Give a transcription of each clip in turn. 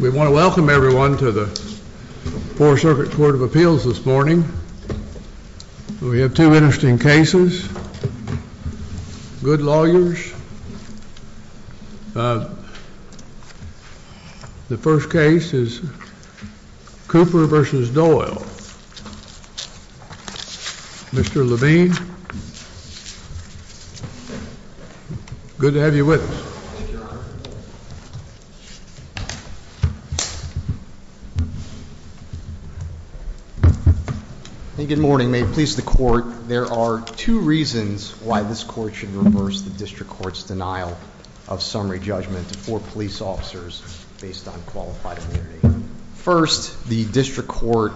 We want to welcome everyone to the 4th Circuit Court of Appeals this morning. We have two interesting cases. Good lawyers. The first case is Cooper v. Doyle. Mr. Levine. Good to have you with us. Thank you, Your Honor. Good morning. May it please the Court, there are two reasons why this Court should reverse the District Court's denial of summary judgment for police officers based on qualified immunity. First, the District Court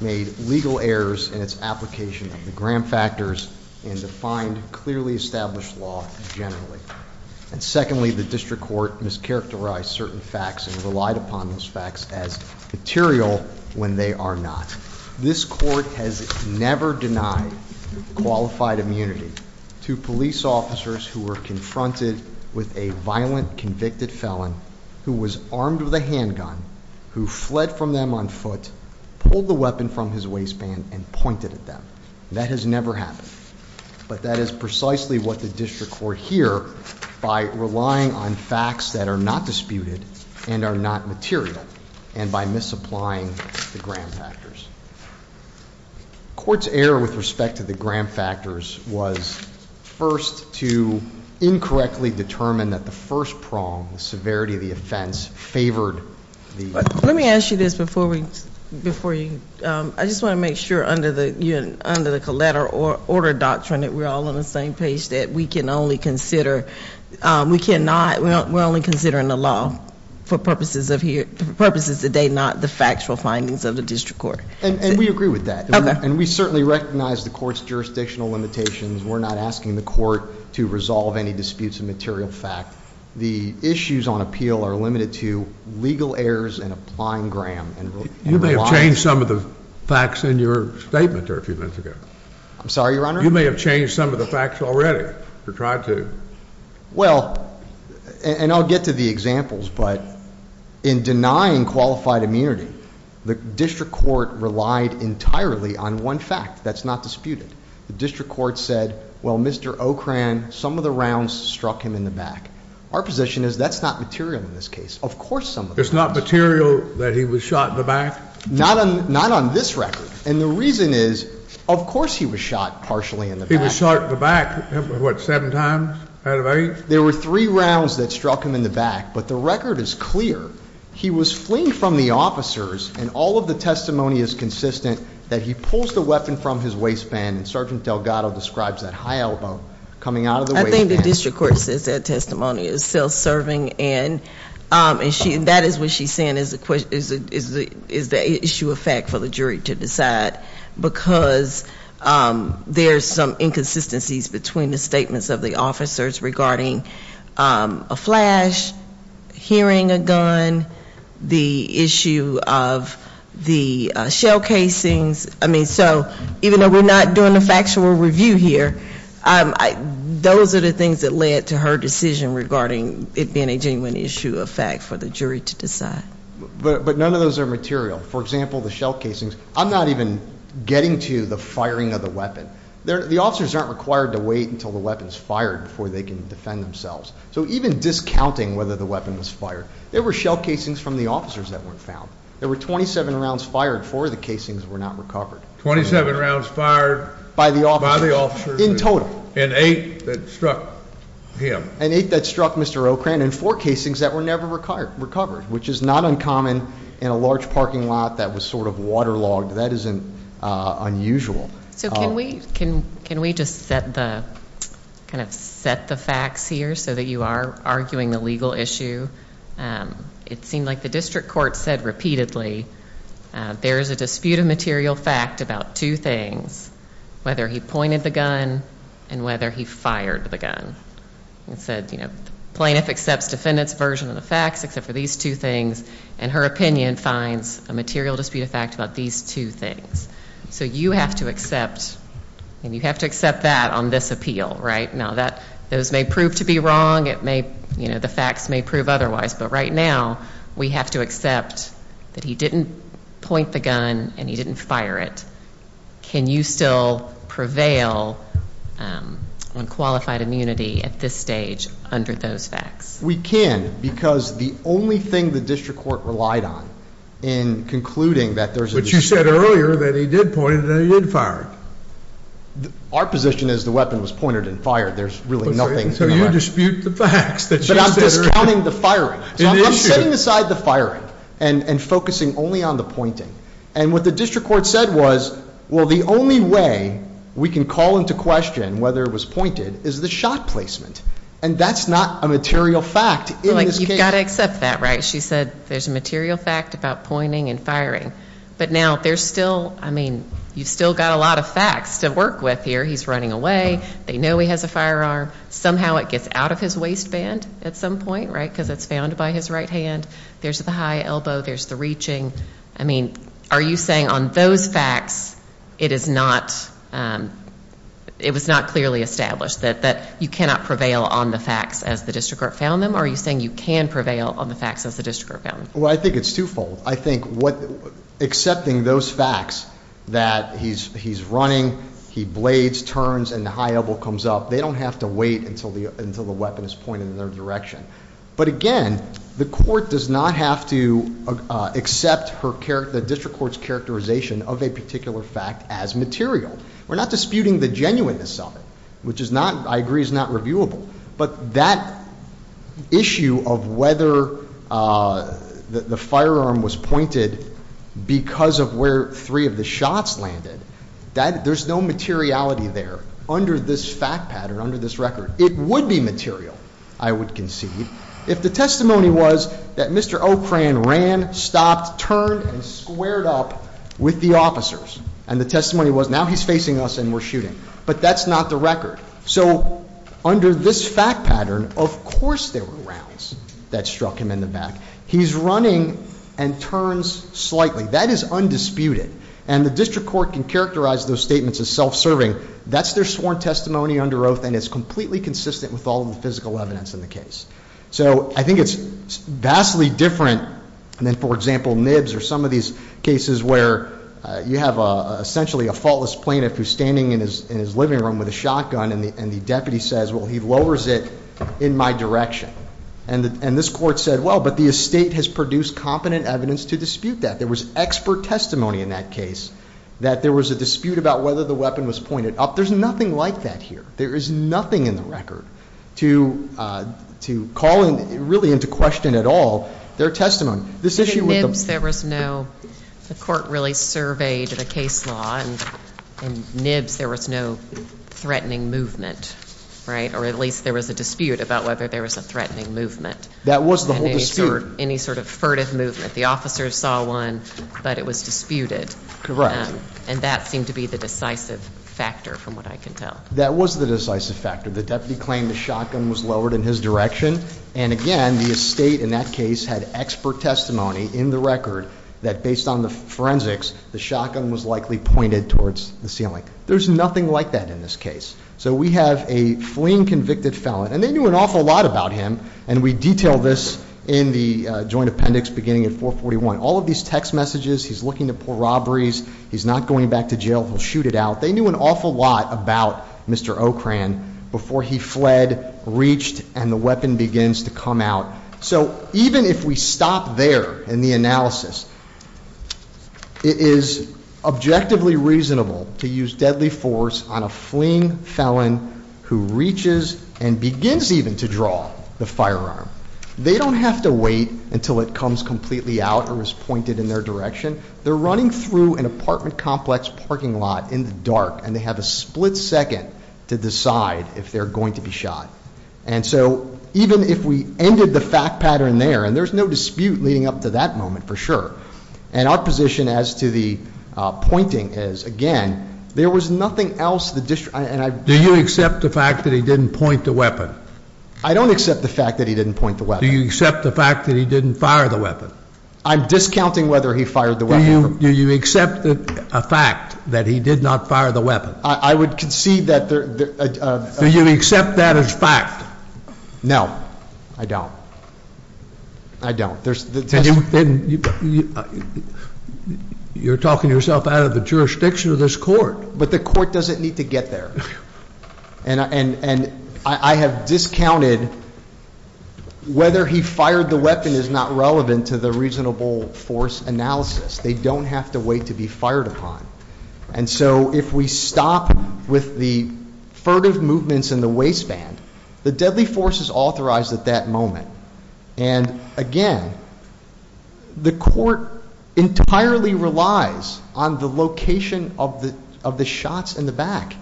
made legal errors in its application of the Graham Factors and defined clearly established law generally. And secondly, the District Court mischaracterized certain facts and relied upon those facts as material when they are not. This Court has never denied qualified immunity to police officers who were confronted with a violent convicted felon who was armed with a handgun, who fled from them on foot, pulled the weapon from his waistband, and pointed at them. That has never happened. But that is precisely what the District Court here, by relying on facts that are not disputed and are not material, and by misapplying the Graham Factors. The Court's error with respect to the Graham Factors was first to incorrectly determine that the first prong, the severity of the offense, favored the- Let me ask you this before we, before you, I just want to make sure under the collateral order doctrine that we're all on the same page, that we can only consider, we cannot, we're only considering the law for purposes of here, for purposes that they're not the factual findings of the District Court. And we agree with that. Okay. And we certainly recognize the Court's jurisdictional limitations. We're not asking the Court to resolve any disputes of material fact. The issues on appeal are limited to legal errors and applying Graham. You may have changed some of the facts in your statement there a few minutes ago. I'm sorry, Your Honor? You may have changed some of the facts already, or tried to. Well, and I'll get to the examples, but in denying qualified immunity, the District Court relied entirely on one fact that's not disputed. The District Court said, well, Mr. O'Kran, some of the rounds struck him in the back. Our position is that's not material in this case. Of course some of the rounds- It's not material that he was shot in the back? Not on this record. And the reason is, of course he was shot partially in the back. He was shot in the back, what, seven times out of eight? There were three rounds that struck him in the back, but the record is clear. He was fleeing from the officers, and all of the testimony is consistent that he pulls the weapon from his waistband, and Sergeant Delgado describes that high elbow coming out of the waistband. I think the District Court says that testimony is self-serving, and that is what she's saying is the issue of fact for the jury to decide. But because there's some inconsistencies between the statements of the officers regarding a flash, hearing a gun, the issue of the shell casings, I mean, so even though we're not doing a factual review here, those are the things that led to her decision regarding it being a genuine issue of fact for the jury to decide. But none of those are material. For example, the shell casings, I'm not even getting to the firing of the weapon. The officers aren't required to wait until the weapon's fired before they can defend themselves. So even discounting whether the weapon was fired, there were shell casings from the officers that weren't found. There were 27 rounds fired, four of the casings were not recovered. 27 rounds fired- By the officer. By the officer. In total. And eight that struck him. And eight that struck Mr. O'Kran and four casings that were never recovered, which is not uncommon in a large parking lot that was sort of waterlogged. That isn't unusual. So can we just set the facts here so that you are arguing the legal issue? It seemed like the district court said repeatedly there is a dispute of material fact about two things, whether he pointed the gun and whether he fired the gun. It said, you know, plaintiff accepts defendant's version of the facts except for these two things, and her opinion finds a material dispute of fact about these two things. So you have to accept, and you have to accept that on this appeal, right? Now, those may prove to be wrong. It may, you know, the facts may prove otherwise. But right now we have to accept that he didn't point the gun and he didn't fire it. Can you still prevail on qualified immunity at this stage under those facts? We can because the only thing the district court relied on in concluding that there's a dispute. But you said earlier that he did point it and he did fire it. Our position is the weapon was pointed and fired. There's really nothing in the record. So you dispute the facts that you said are an issue. But I'm discounting the firing. So I'm setting aside the firing and focusing only on the pointing. And what the district court said was, well, the only way we can call into question whether it was pointed is the shot placement. And that's not a material fact in this case. You've got to accept that, right? She said there's a material fact about pointing and firing. But now there's still, I mean, you've still got a lot of facts to work with here. He's running away. They know he has a firearm. Somehow it gets out of his waistband at some point, right, because it's found by his right hand. There's the high elbow. There's the reaching. I mean, are you saying on those facts it is not, it was not clearly established that you cannot prevail on the facts as the district court found them? Or are you saying you can prevail on the facts as the district court found them? Well, I think it's twofold. I think accepting those facts that he's running, he blades, turns, and the high elbow comes up, they don't have to wait until the weapon is pointed in their direction. But again, the court does not have to accept the district court's characterization of a particular fact as material. We're not disputing the genuineness of it, which I agree is not reviewable. But that issue of whether the firearm was pointed because of where three of the shots landed, there's no materiality there under this fact pattern, under this record. It would be material, I would concede, if the testimony was that Mr. Ocran ran, stopped, turned, and squared up with the officers. And the testimony was, now he's facing us and we're shooting. But that's not the record. So under this fact pattern, of course there were rounds that struck him in the back. He's running and turns slightly. That is undisputed. And the district court can characterize those statements as self-serving. That's their sworn testimony under oath, and it's completely consistent with all the physical evidence in the case. So I think it's vastly different than, for example, Nibs or some of these cases where you have essentially a faultless plaintiff who's standing in his living room with a shotgun. And the deputy says, well, he lowers it in my direction. And this court said, well, but the estate has produced competent evidence to dispute that. There was expert testimony in that case that there was a dispute about whether the weapon was pointed up. There's nothing like that here. There is nothing in the record to call really into question at all their testimony. This issue with the- In Nibs there was no, the court really surveyed the case law. In Nibs there was no threatening movement, right? Or at least there was a dispute about whether there was a threatening movement. That was the whole dispute. Or any sort of furtive movement. The officers saw one, but it was disputed. Correct. And that seemed to be the decisive factor, from what I can tell. That was the decisive factor. The deputy claimed the shotgun was lowered in his direction. And again, the estate in that case had expert testimony in the record that, based on the forensics, the shotgun was likely pointed towards the ceiling. There's nothing like that in this case. So we have a fleeing convicted felon. And they knew an awful lot about him. And we detail this in the joint appendix beginning at 441. All of these text messages, he's looking to pull robberies, he's not going back to jail, he'll shoot it out. They knew an awful lot about Mr. Ocran before he fled, reached, and the weapon begins to come out. So even if we stop there in the analysis, it is objectively reasonable to use deadly force on a fleeing felon who reaches and begins even to draw the firearm. They don't have to wait until it comes completely out or is pointed in their direction. They're running through an apartment complex parking lot in the dark, and they have a split second to decide if they're going to be shot. And so even if we ended the fact pattern there, and there's no dispute leading up to that moment for sure. And our position as to the pointing is, again, there was nothing else the district, and I- Do you accept the fact that he didn't point the weapon? I don't accept the fact that he didn't point the weapon. Do you accept the fact that he didn't fire the weapon? I'm discounting whether he fired the weapon. Do you accept a fact that he did not fire the weapon? I would concede that there- Do you accept that as fact? No, I don't. I don't. You're talking yourself out of the jurisdiction of this court. But the court doesn't need to get there. And I have discounted whether he fired the weapon is not relevant to the reasonable force analysis. They don't have to wait to be fired upon. And so if we stop with the furtive movements in the waistband, the deadly force is authorized at that moment. And, again, the court entirely relies on the location of the shots in the back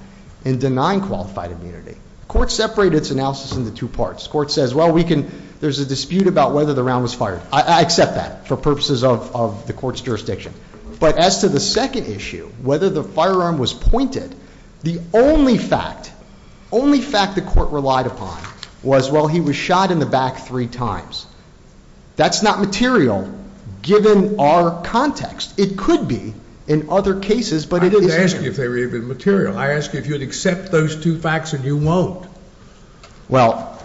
in denying qualified immunity. The court separated its analysis into two parts. The court says, well, we can- there's a dispute about whether the round was fired. I accept that for purposes of the court's jurisdiction. But as to the second issue, whether the firearm was pointed, the only fact, only fact the court relied upon was, well, he was shot in the back three times. That's not material given our context. It could be in other cases, but it isn't. I didn't ask you if they were even material. I asked you if you would accept those two facts, and you won't. Well-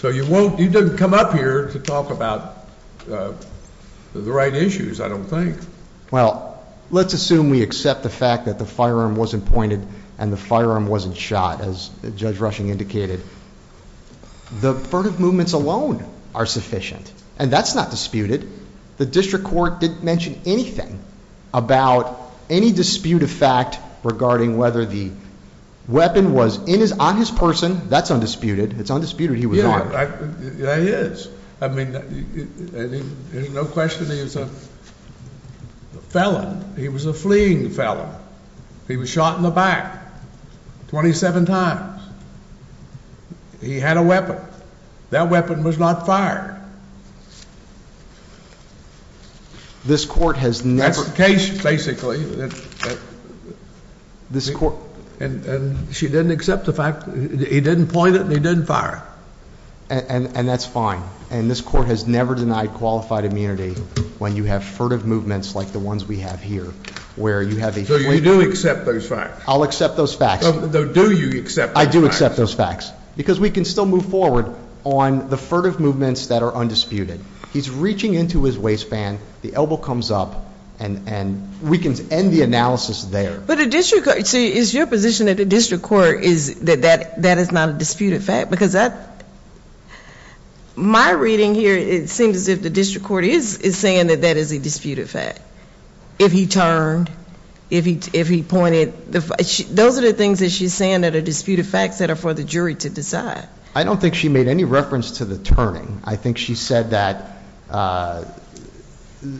So you won't- you didn't come up here to talk about the right issues, I don't think. Well, let's assume we accept the fact that the firearm wasn't pointed and the firearm wasn't shot, as Judge Rushing indicated. The furtive movements alone are sufficient, and that's not disputed. The district court didn't mention anything about any dispute of fact regarding whether the weapon was on his person. That's undisputed. It's undisputed he was armed. Yeah, it is. I mean, there's no question he was a felon. He was a fleeing felon. He was shot in the back 27 times. He had a weapon. That weapon was not fired. This court has never- That's the case, basically. And she didn't accept the fact that he didn't point it and he didn't fire it. And that's fine. And this court has never denied qualified immunity when you have furtive movements like the ones we have here, where you have a- So you do accept those facts? I'll accept those facts. Do you accept those facts? I do accept those facts. Because we can still move forward on the furtive movements that are undisputed. He's reaching into his waistband, the elbow comes up, and we can end the analysis there. But a district court- So is your position that the district court is- that that is not a disputed fact? Because my reading here, it seems as if the district court is saying that that is a disputed fact. If he turned, if he pointed- Those are the things that she's saying that are disputed facts that are for the jury to decide. I don't think she made any reference to the turning. I think she said that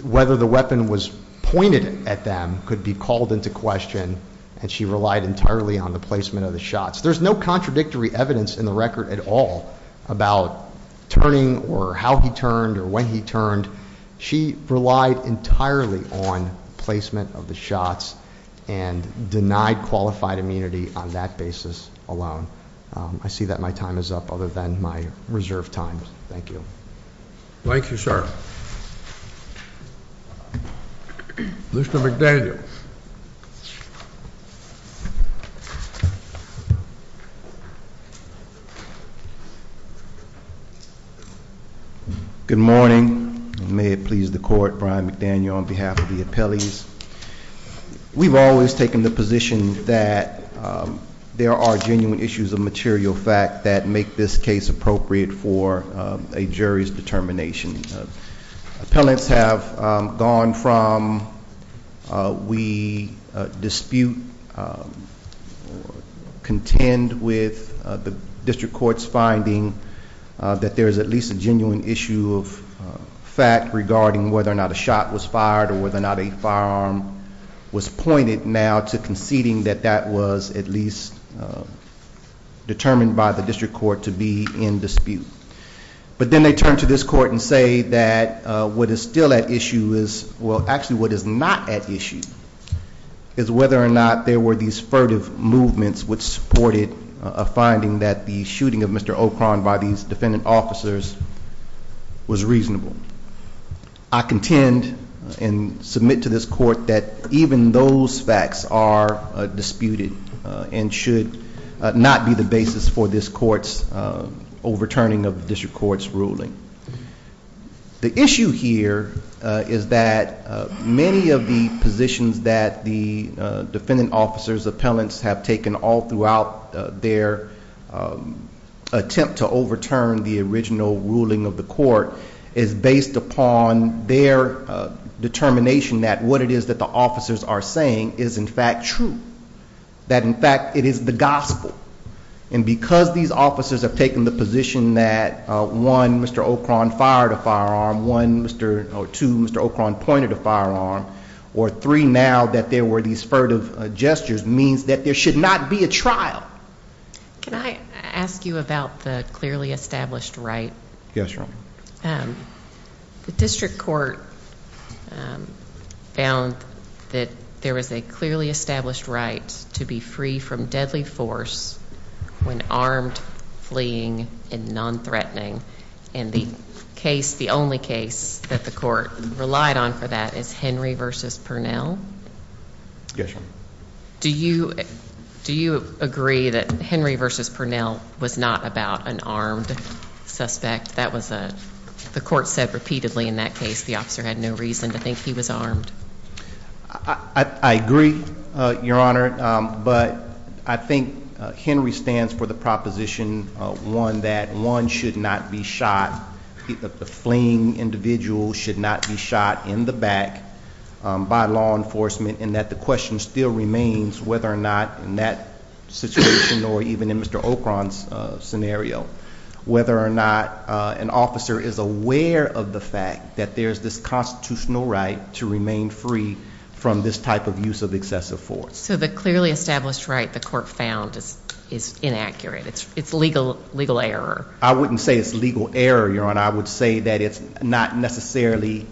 whether the weapon was pointed at them could be called into question, and she relied entirely on the placement of the shots. There's no contradictory evidence in the record at all about turning or how he turned or when he turned. She relied entirely on placement of the shots and denied qualified immunity on that basis alone. I see that my time is up, other than my reserved time. Thank you. Thank you, sir. Mr. McDaniel. Good morning. May it please the court, Brian McDaniel on behalf of the appellees. We've always taken the position that there are genuine issues of material fact that make this case appropriate for a jury's determination. Appellants have gone from we dispute or contend with the district court's finding that there is at least a genuine issue of fact regarding whether or not a shot was fired or whether or not a firearm was pointed now to conceding that that was at least determined by the district court to be in dispute. But then they turn to this court and say that what is still at issue is, well, actually what is not at issue is whether or not there were these furtive movements which supported a finding that the shooting of Mr. O'Kron by these defendant officers was reasonable. I contend and submit to this court that even those facts are disputed and should not be the basis for this court's overturning of the district court's ruling. The issue here is that many of the positions that the defendant officers appellants have taken all throughout their attempt to overturn the original ruling of the court is based upon their determination that what it is that the officers are saying is in fact true. That in fact it is the gospel. And because these officers have taken the position that one, Mr. O'Kron fired a firearm. One, Mr. or two, Mr. O'Kron pointed a firearm. Or three, now that there were these furtive gestures means that there should not be a trial. Can I ask you about the clearly established right? Yes, Your Honor. The district court found that there was a clearly established right to be free from deadly force when armed fleeing and non-threatening. And the case, the only case that the court relied on for that is Henry v. Purnell? Yes, Your Honor. Do you agree that Henry v. Purnell was not about an armed suspect? The court said repeatedly in that case the officer had no reason to think he was armed. I agree, Your Honor. But I think Henry stands for the proposition that one should not be shot. The fleeing individual should not be shot in the back by law enforcement and that the question still remains whether or not in that situation or even in Mr. O'Kron's scenario, whether or not an officer is aware of the fact that there is this constitutional right to remain free from this type of use of excessive force. So the clearly established right the court found is inaccurate. It's legal error. I wouldn't say it's legal error, Your Honor. I would say that it's not necessarily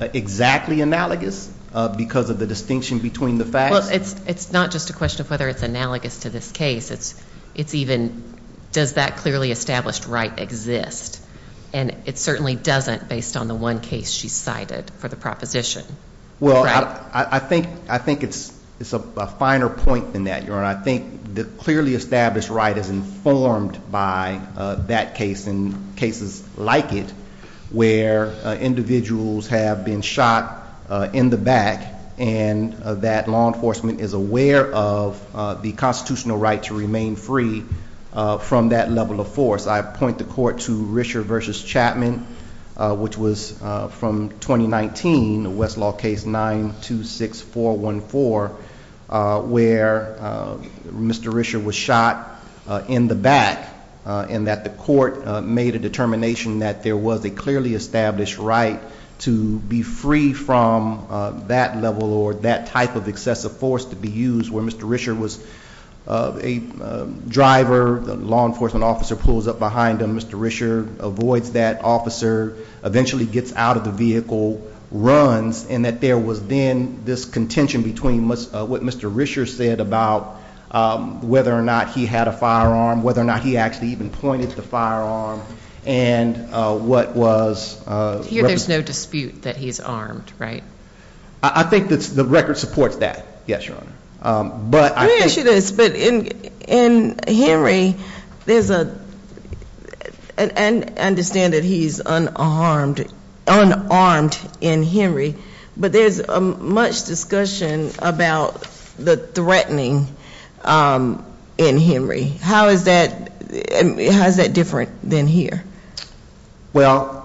exactly analogous because of the distinction between the facts. Well, it's not just a question of whether it's analogous to this case. It's even does that clearly established right exist? And it certainly doesn't based on the one case she cited for the proposition. Well, I think it's a finer point than that, Your Honor. I think the clearly established right is informed by that case and cases like it where individuals have been shot in the back and that law enforcement is aware of the constitutional right to remain free from that level of force. I point the court to Risher v. Chapman, which was from 2019, Westlaw case 926414, where Mr. Risher was shot in the back and that the court made a determination that there was a clearly established right to be free from that level or that type of excessive force to be used where Mr. Risher was a driver, the law enforcement officer pulls up behind him, Mr. Risher avoids that officer, eventually gets out of the vehicle, runs, and that there was then this contention between what Mr. Risher said about whether or not he had a firearm, whether or not he actually even pointed the firearm and what was... Here there's no dispute that he's armed, right? I think the record supports that, yes, Your Honor. Let me ask you this, but in Henry there's a... I understand that he's unarmed in Henry, but there's much discussion about the threatening in Henry. How is that different than here? Well,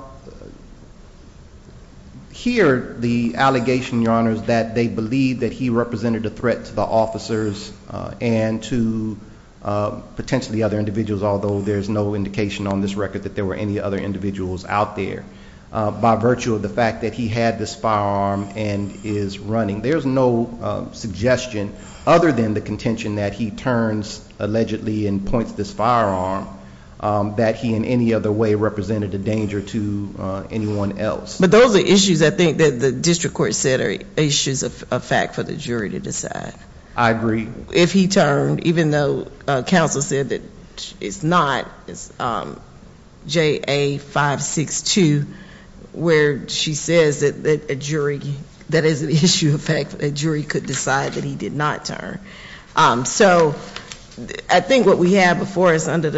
here the allegation, Your Honor, is that they believe that he represented a threat to the officers and to potentially other individuals, although there's no indication on this record that there were any other individuals out there by virtue of the fact that he had this firearm and is running. There's no suggestion other than the contention that he turns allegedly and points this firearm that he in any other way represented a danger to anyone else. But those are issues, I think, that the district court said are issues of fact for the jury to decide. I agree. If he turned, even though counsel said that it's not, it's JA 562 where she says that a jury, that is an issue of fact that a jury could decide that he did not turn. So I think what we have before us under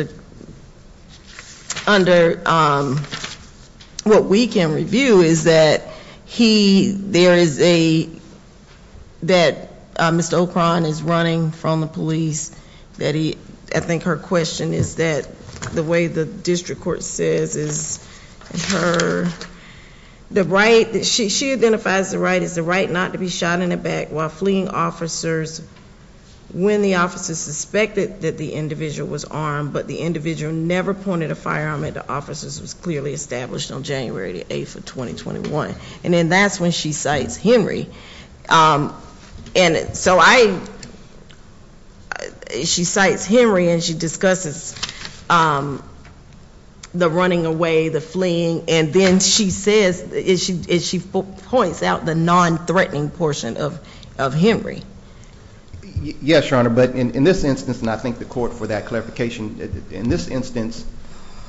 what we can review is that he, there is a, that Mr. O'Kron is running from the police, that he I think her question is that the way the district court says is her the right, she identifies the right as the right not to be shot in the back while fleeing officers when the officers suspected that the individual was armed, but the individual never pointed a firearm at the officers. It was clearly established on January the 8th of 2021. And then that's when she cites Henry. And so I, she cites Henry and she discusses the running away, the fleeing, and then she says, and she points out the non-threatening portion of Henry. Yes, Your Honor, but in this instance, and I think the court for that clarification, in this instance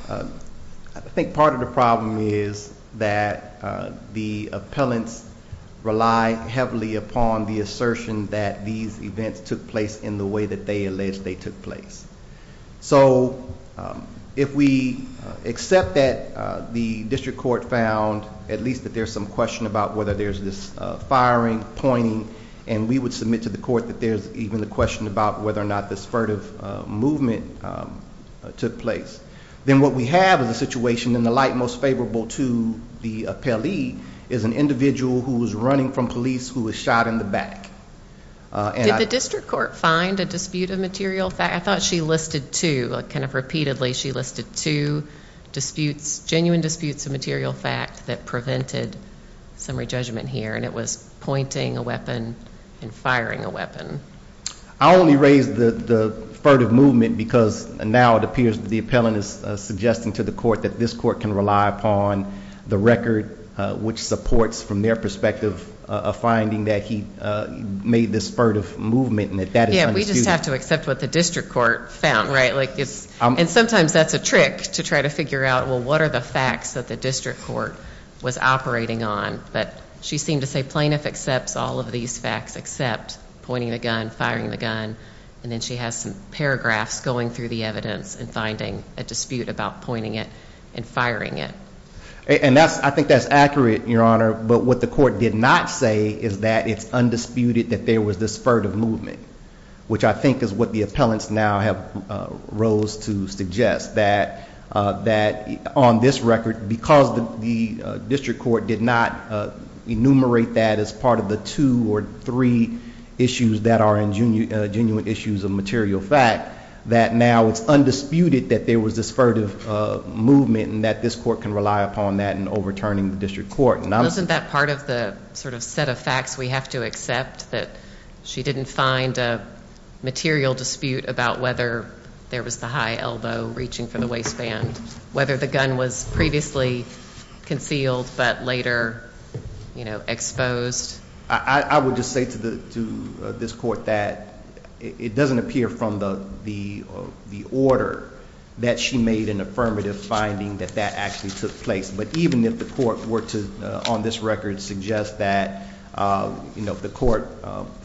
I think part of the problem is that the appellants rely heavily upon the assertion that these events took place in the way that they allege they took place. So if we accept that the district court found at least that there's some question about whether there's this firing, pointing, and we would submit to the court that there's even a question about whether or not this furtive movement took place, then what we have is a situation in the light most favorable to the appellee is an individual who was running from police who was shot in the back. Did the district court find a dispute of material fact? I thought she listed two, kind of repeatedly she listed two disputes, genuine disputes of material fact that prevented summary judgment here, and it was pointing a weapon and firing a weapon. I only raised the furtive movement because now it appears that the appellant is suggesting to the court that this court can rely upon the record which supports from their perspective a finding that he made this furtive movement. Yeah, we just have to accept what the district court found, right? And sometimes that's a trick to try to figure out well what are the facts that the district court was operating on, but she seemed to say plaintiff accepts all of these facts except pointing the gun, firing the gun, and then she has some paragraphs going through the evidence and finding a dispute about pointing it and firing it. And I think that's accurate, your honor, but what the court did not say is that it's undisputed that there was this furtive movement, which I think is what the appellants now have rose to suggest, that on this record, because the district court did not enumerate that as part of the two or three issues that are genuine issues of material fact, that now it's undisputed that there was this furtive movement and that this court can rely upon that in overturning the district court. Wasn't that part of the set of facts we have to accept that she didn't find a material dispute about whether there was the high elbow reaching for the waistband, whether the gun was previously concealed but later exposed? I would just say to this court that it doesn't appear from the order that she made an affirmative finding that that actually took place. But even if the court were to, on this record, suggest that the court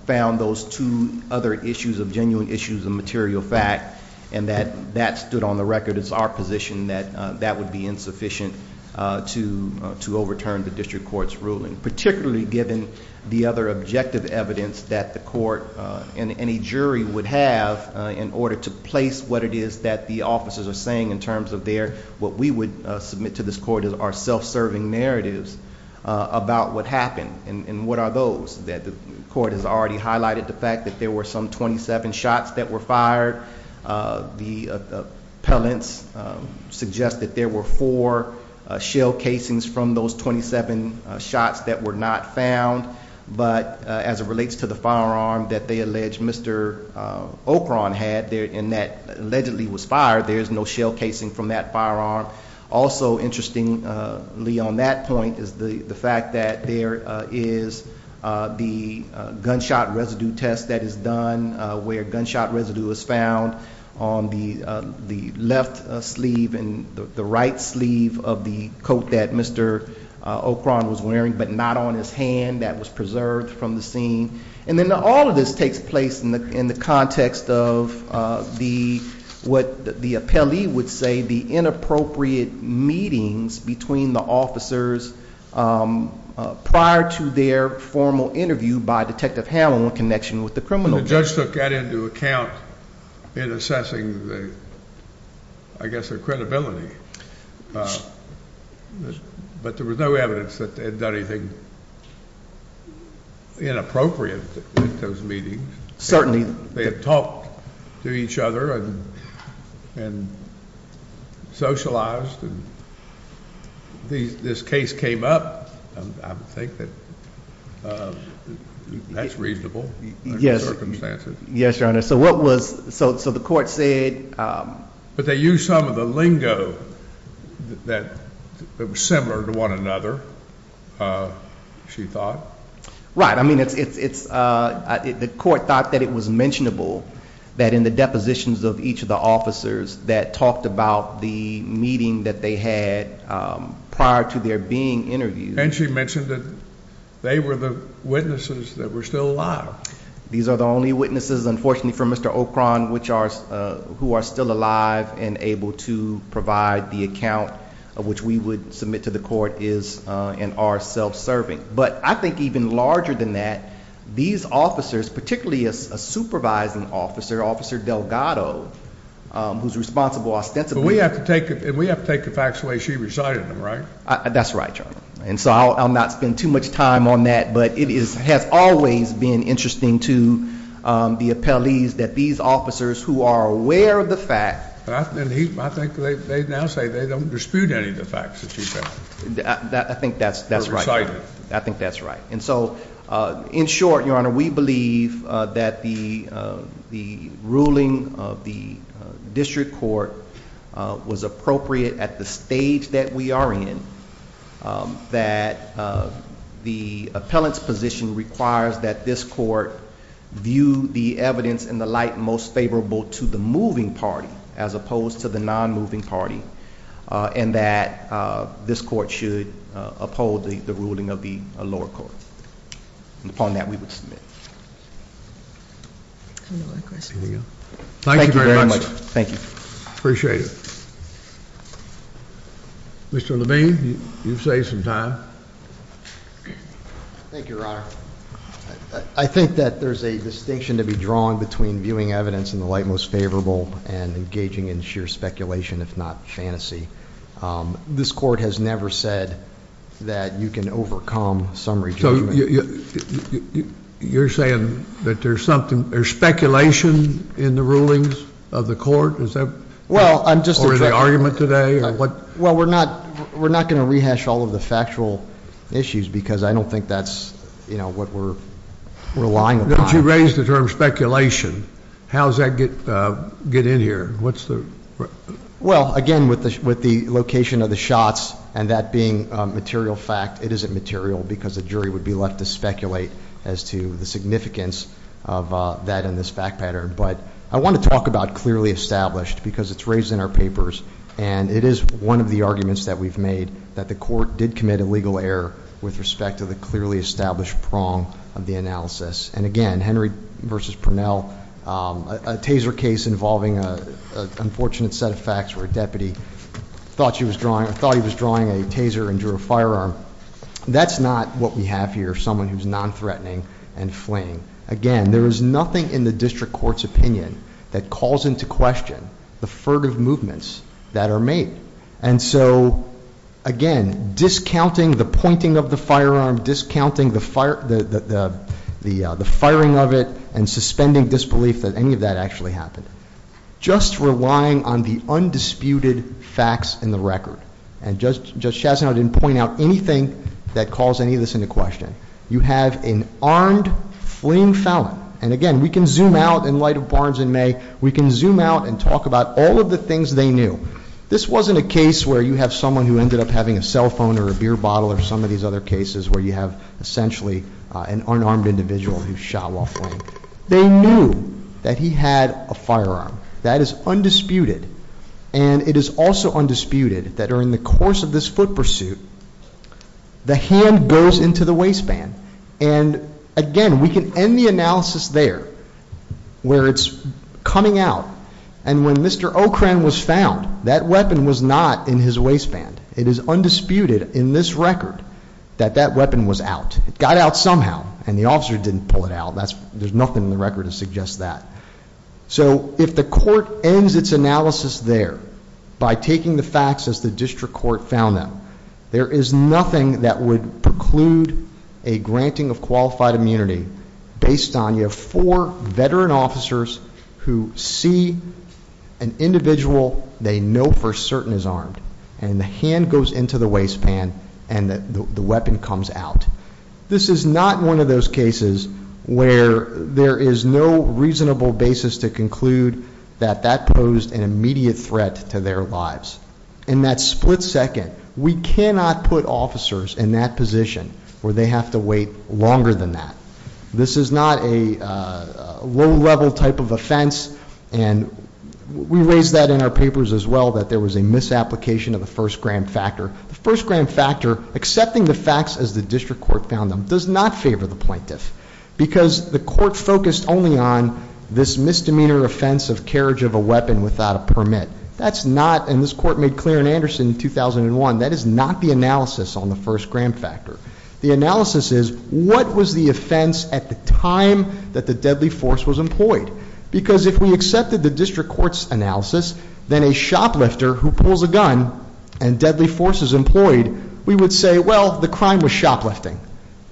found those two other issues of genuine issues of material fact and that that stood on the record, it's our position that that would be insufficient to overturn the district court's ruling. Particularly given the other objective evidence that the court and any jury would have in order to place what it is that the officers are saying in terms of their what we would submit to this court as our self-serving narratives about what happened and what are those. The court has already highlighted the fact that there were some 27 shots that were fired. The appellants suggest that there were four shell casings from those 27 shots that were not found. But as it relates to the firearm that they allege Mr. Ocron had and that allegedly was fired, there is no shell casing from that firearm. Also interestingly on that point is the fact that there is the gunshot residue test that is done where gunshot residue is found on the left sleeve and the right sleeve of the coat that Mr. Ocron was wearing but not on his hand that was preserved from the scene. And then all of this takes place in the context of what the appellee would say in the inappropriate meetings between the officers prior to their formal interview by Detective Hamlin in connection with the criminal case. The judge took that into account in assessing I guess their credibility. But there was no evidence that they had done anything inappropriate at those meetings. They had talked to each other and socialized and this case came up. I think that's reasonable under the circumstances. But they used some of the lingo that was similar to one another she thought. Right, I mean it's the court thought that it was mentionable that in the depositions of each of the officers that talked about the meeting that they had prior to their being interviewed. And she mentioned that they were the witnesses that were still alive. These are the only witnesses unfortunately for Mr. Ocron who are still alive and able to provide the account of which we would submit to the court is and are self-serving. But I think even larger than that, these officers, particularly a supervising officer, Officer Delgado, who's responsible ostensibly But we have to take the facts the way she recited them, right? That's right, your honor. And so I'll not spend too much time on that, but it has always been interesting to the appellees that these officers who are aware of the fact. I think they now say they don't dispute any of the facts. I think that's right. I think that's right. And so in short, your honor, we believe that the ruling of the district court was appropriate at the stage that we are in that the appellant's position requires that this court view the evidence in the light most favorable to the moving party as opposed to the non-moving party and that this court should uphold the ruling of the lower court. And upon that we would submit. Thank you very much. Thank you. Appreciate it. Mr. Levine, you've saved some time. Thank you, your honor. I think that there's a distinction to be drawn between viewing evidence in the light most favorable and engaging in sheer speculation, if not fantasy. This court has never said that you can overcome summary judgment. You're saying that there's speculation in the rulings of the court? Or in the argument today? Well, we're not going to rehash all of the factual issues because I don't think that's what we're relying upon. Don't you raise the term with the location of the shots and that being material fact. It isn't material because the jury would be left to speculate as to the significance of that in this fact pattern. But I want to talk about clearly established because it's raised in our papers and it is one of the arguments that we've made that the court did commit a legal error with respect to the clearly established prong of the analysis. And again, Henry versus Purnell, a taser case involving an unfortunate set of facts where a deputy thought he was drawing a taser and drew a firearm. That's not what we have here someone who's non-threatening and fleeing. Again, there is nothing in the district court's opinion that calls into question the furtive movements that are made. And so, again, discounting the pointing of the firearm, discounting the firing of it and suspending disbelief that any of that actually happened. Just relying on the undisputed facts in the record. And Judge Chazanow didn't point out anything that calls any of this into question. You have an armed fleeing felon. And again, we can zoom out in light of Barnes and May. We can or some of these other cases where you have essentially an unarmed individual who's shot while fleeing. They knew that he had a firearm. That is undisputed. And it is also undisputed that during the course of this foot pursuit, the hand goes into the waistband. And again, we can end the analysis there where it's coming out. And when Mr. Okren was found, that weapon was not in his waistband. It is undisputed in this record that that weapon was out. It got out somehow. And the officer didn't pull it out. There's nothing in the record to suggest that. So if the court ends its analysis there by taking the facts as the district court found them, there is nothing that would preclude a granting of qualified immunity based on you have four veteran officers who see an individual they know for certain is armed. And the hand goes into the waistband and the weapon comes out. This is not one of those cases where there is no reasonable basis to conclude that that posed an immediate threat to their lives. In that split second, we cannot put officers in that position where they have to wait longer than that. This is not a low level type of offense. And we raised that in our papers as well, that there was a misapplication of the first grand factor. The first grand factor, accepting the facts as the district court found them, does not favor the plaintiff. Because the court focused only on this misdemeanor offense of carriage of a weapon without a permit. That's not, and this court made clear in Anderson in 2001, that is not the analysis on the first grand factor. The analysis is, what was the offense at the time that the deadly force was employed? Because if we accepted the district court's analysis, then a shoplifter who pulls a gun and deadly force is employed, we would say, well, the crime was shoplifting.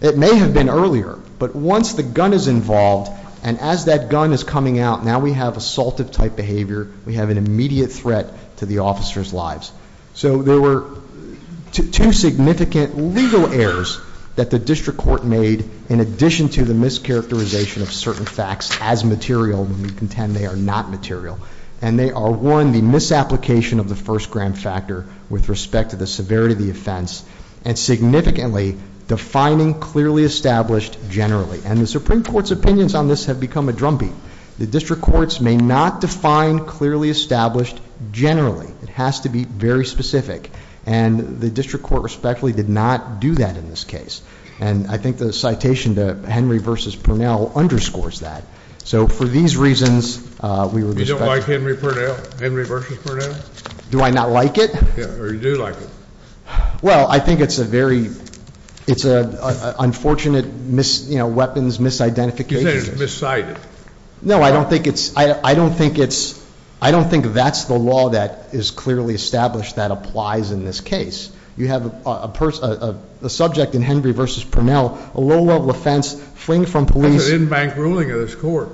It may have been earlier. But once the gun is involved, and as that gun is coming out, now we have assaultive type behavior. We have an immediate threat to the officer's lives. So there were two significant legal errors that the district court made in addition to the mischaracterization of certain facts as material, and we contend they are not material. And they are, one, the misapplication of the first grand factor with respect to the severity of the offense, and significantly defining clearly established generally. And the Supreme Court's opinions on this have become a drumbeat. The district courts may not define clearly established generally. It has to be very specific. And the district court respectfully did not do that in this case. And I think the citation to Henry v. Purnell underscores that. So for these reasons, we would expect... You don't like Henry Purnell? Henry v. Purnell? Do I not like it? Or you do like it? Well, I think it's a very, it's an unfortunate weapons misidentification. You say it's miscited. No, I don't think it's, I don't think it's, I don't think that's the law that is clearly established that applies in this case. You have a subject in Henry v. Purnell, a low-level offense, fleeing from police... That's an in-bank ruling of this court.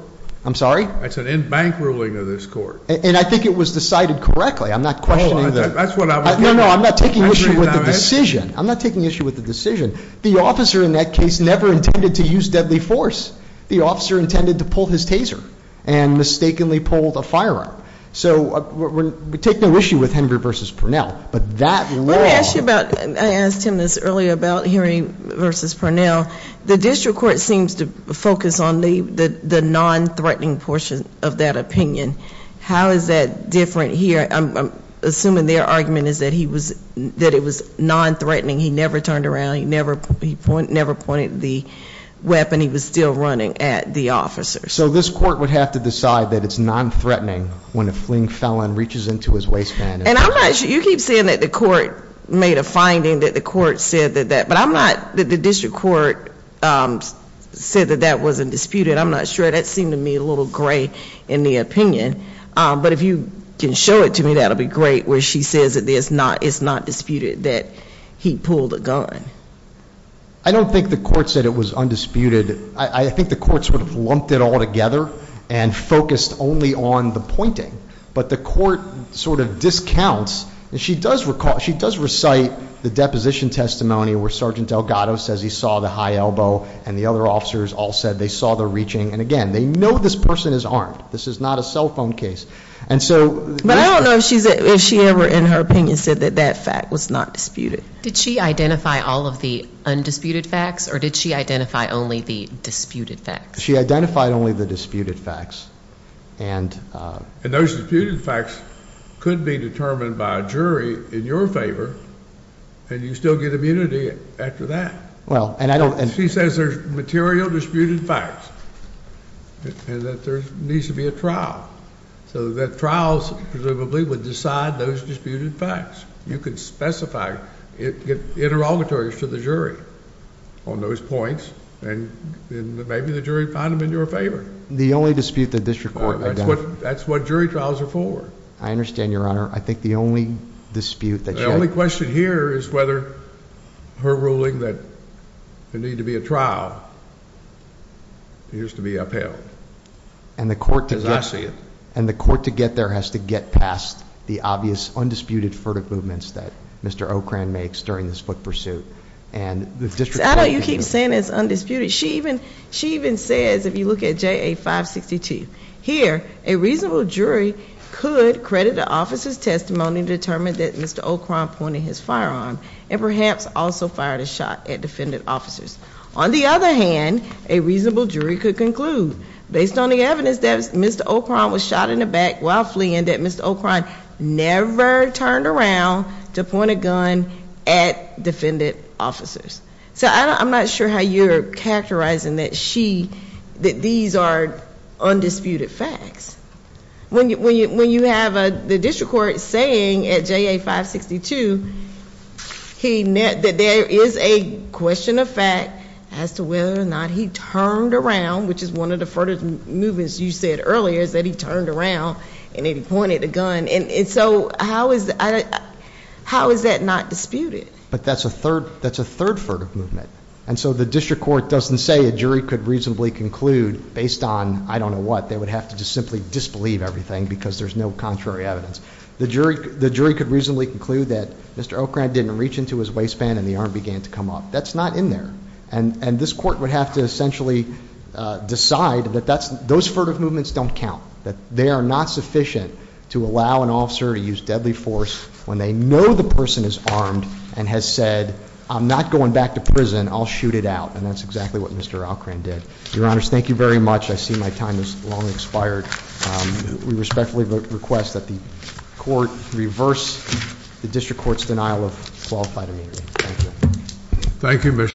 I'm sorry? That's an in-bank ruling of this court. And I think it was decided correctly. I'm not questioning the... No, no, I'm not taking issue with the decision. I'm not taking issue with the decision. The officer in that case never intended to use deadly force. The officer intended to pull his taser and mistakenly pulled a firearm. So we take no issue with Henry v. Purnell. But that law... Let me ask you about, I asked him this earlier about Henry v. Purnell. The district court seems to focus on the non-threatening portion of that opinion. How is that different here? I'm assuming their argument is that he was, that it was non-threatening. He never turned around. He never pointed the weapon. He was still running at the officer. So this court would have to decide that it's non-threatening when a fleeing felon reaches into his waistband. And I'm not sure, you keep saying that the court made a finding that the court said that that, but I'm not, the district court said that that wasn't disputed. I'm not sure. That seemed to me a little gray in the opinion. But if you can show it to me, that would be great. Where she says that it's not disputed that he pulled a gun. I don't think the court said it was undisputed. I think the court sort of lumped it all together and focused only on the pointing. But the court sort of discounts, and she does recite the deposition testimony where Sergeant Delgado says he saw the high elbow and the other officers all said they saw the reaching. And again, they know this person is armed. This is not a cell phone case. But I don't know if she ever in her opinion said that that fact was not disputed. Did she identify all of the undisputed facts or did she identify only the disputed facts? She identified only the disputed facts. And those disputed facts could be determined by a jury in your favor. And you still get immunity after that. Well, and I don't. And she says there's material disputed facts and that there needs to be a trial so that trials presumably would decide those disputed facts. You could specify it interrogatories to the jury on those points, and maybe the jury would find them in your favor. The only dispute the district court has done. That's what jury trials are for. I understand, Your Honor. I think the only dispute. The only question here is whether her ruling that there needs to be a trial needs to be upheld. Because I see it. And the court to get there has to get past the obvious undisputed furtive movements that Mr. O'Kran makes during the split pursuit. I don't know why you keep saying it's undisputed. She even says, if you look at JA 562, here, a reasonable jury could credit the officer's testimony to determine that Mr. O'Kran pointed his firearm and perhaps also fired a shot at defendant officers. On the other hand, a reasonable jury never turned around to point a gun at defendant officers. So I'm not sure how you're characterizing that she, that these are undisputed facts. When you have the district court saying at JA 562, that there is a question of fact as to whether or not he turned around, which is one of the furtive movements you said earlier, is that he turned around and he pointed a gun. And so how is that not disputed? But that's a third furtive movement. And so the district court doesn't say a jury could reasonably conclude based on I don't know what. They would have to simply disbelieve everything because there's no contrary evidence. The jury could reasonably conclude that Mr. O'Kran pointed a gun. And this court would have to essentially decide that those furtive movements don't count. That they are not sufficient to allow an officer to use deadly force when they know the person is armed and has said, I'm not going back to prison, I'll shoot it out. And that's exactly what Mr. O'Kran did. Your Honors, thank you very much. I see my time has long expired. We respectfully request that the committee reverse the district court's denial of qualified immunity. Thank you.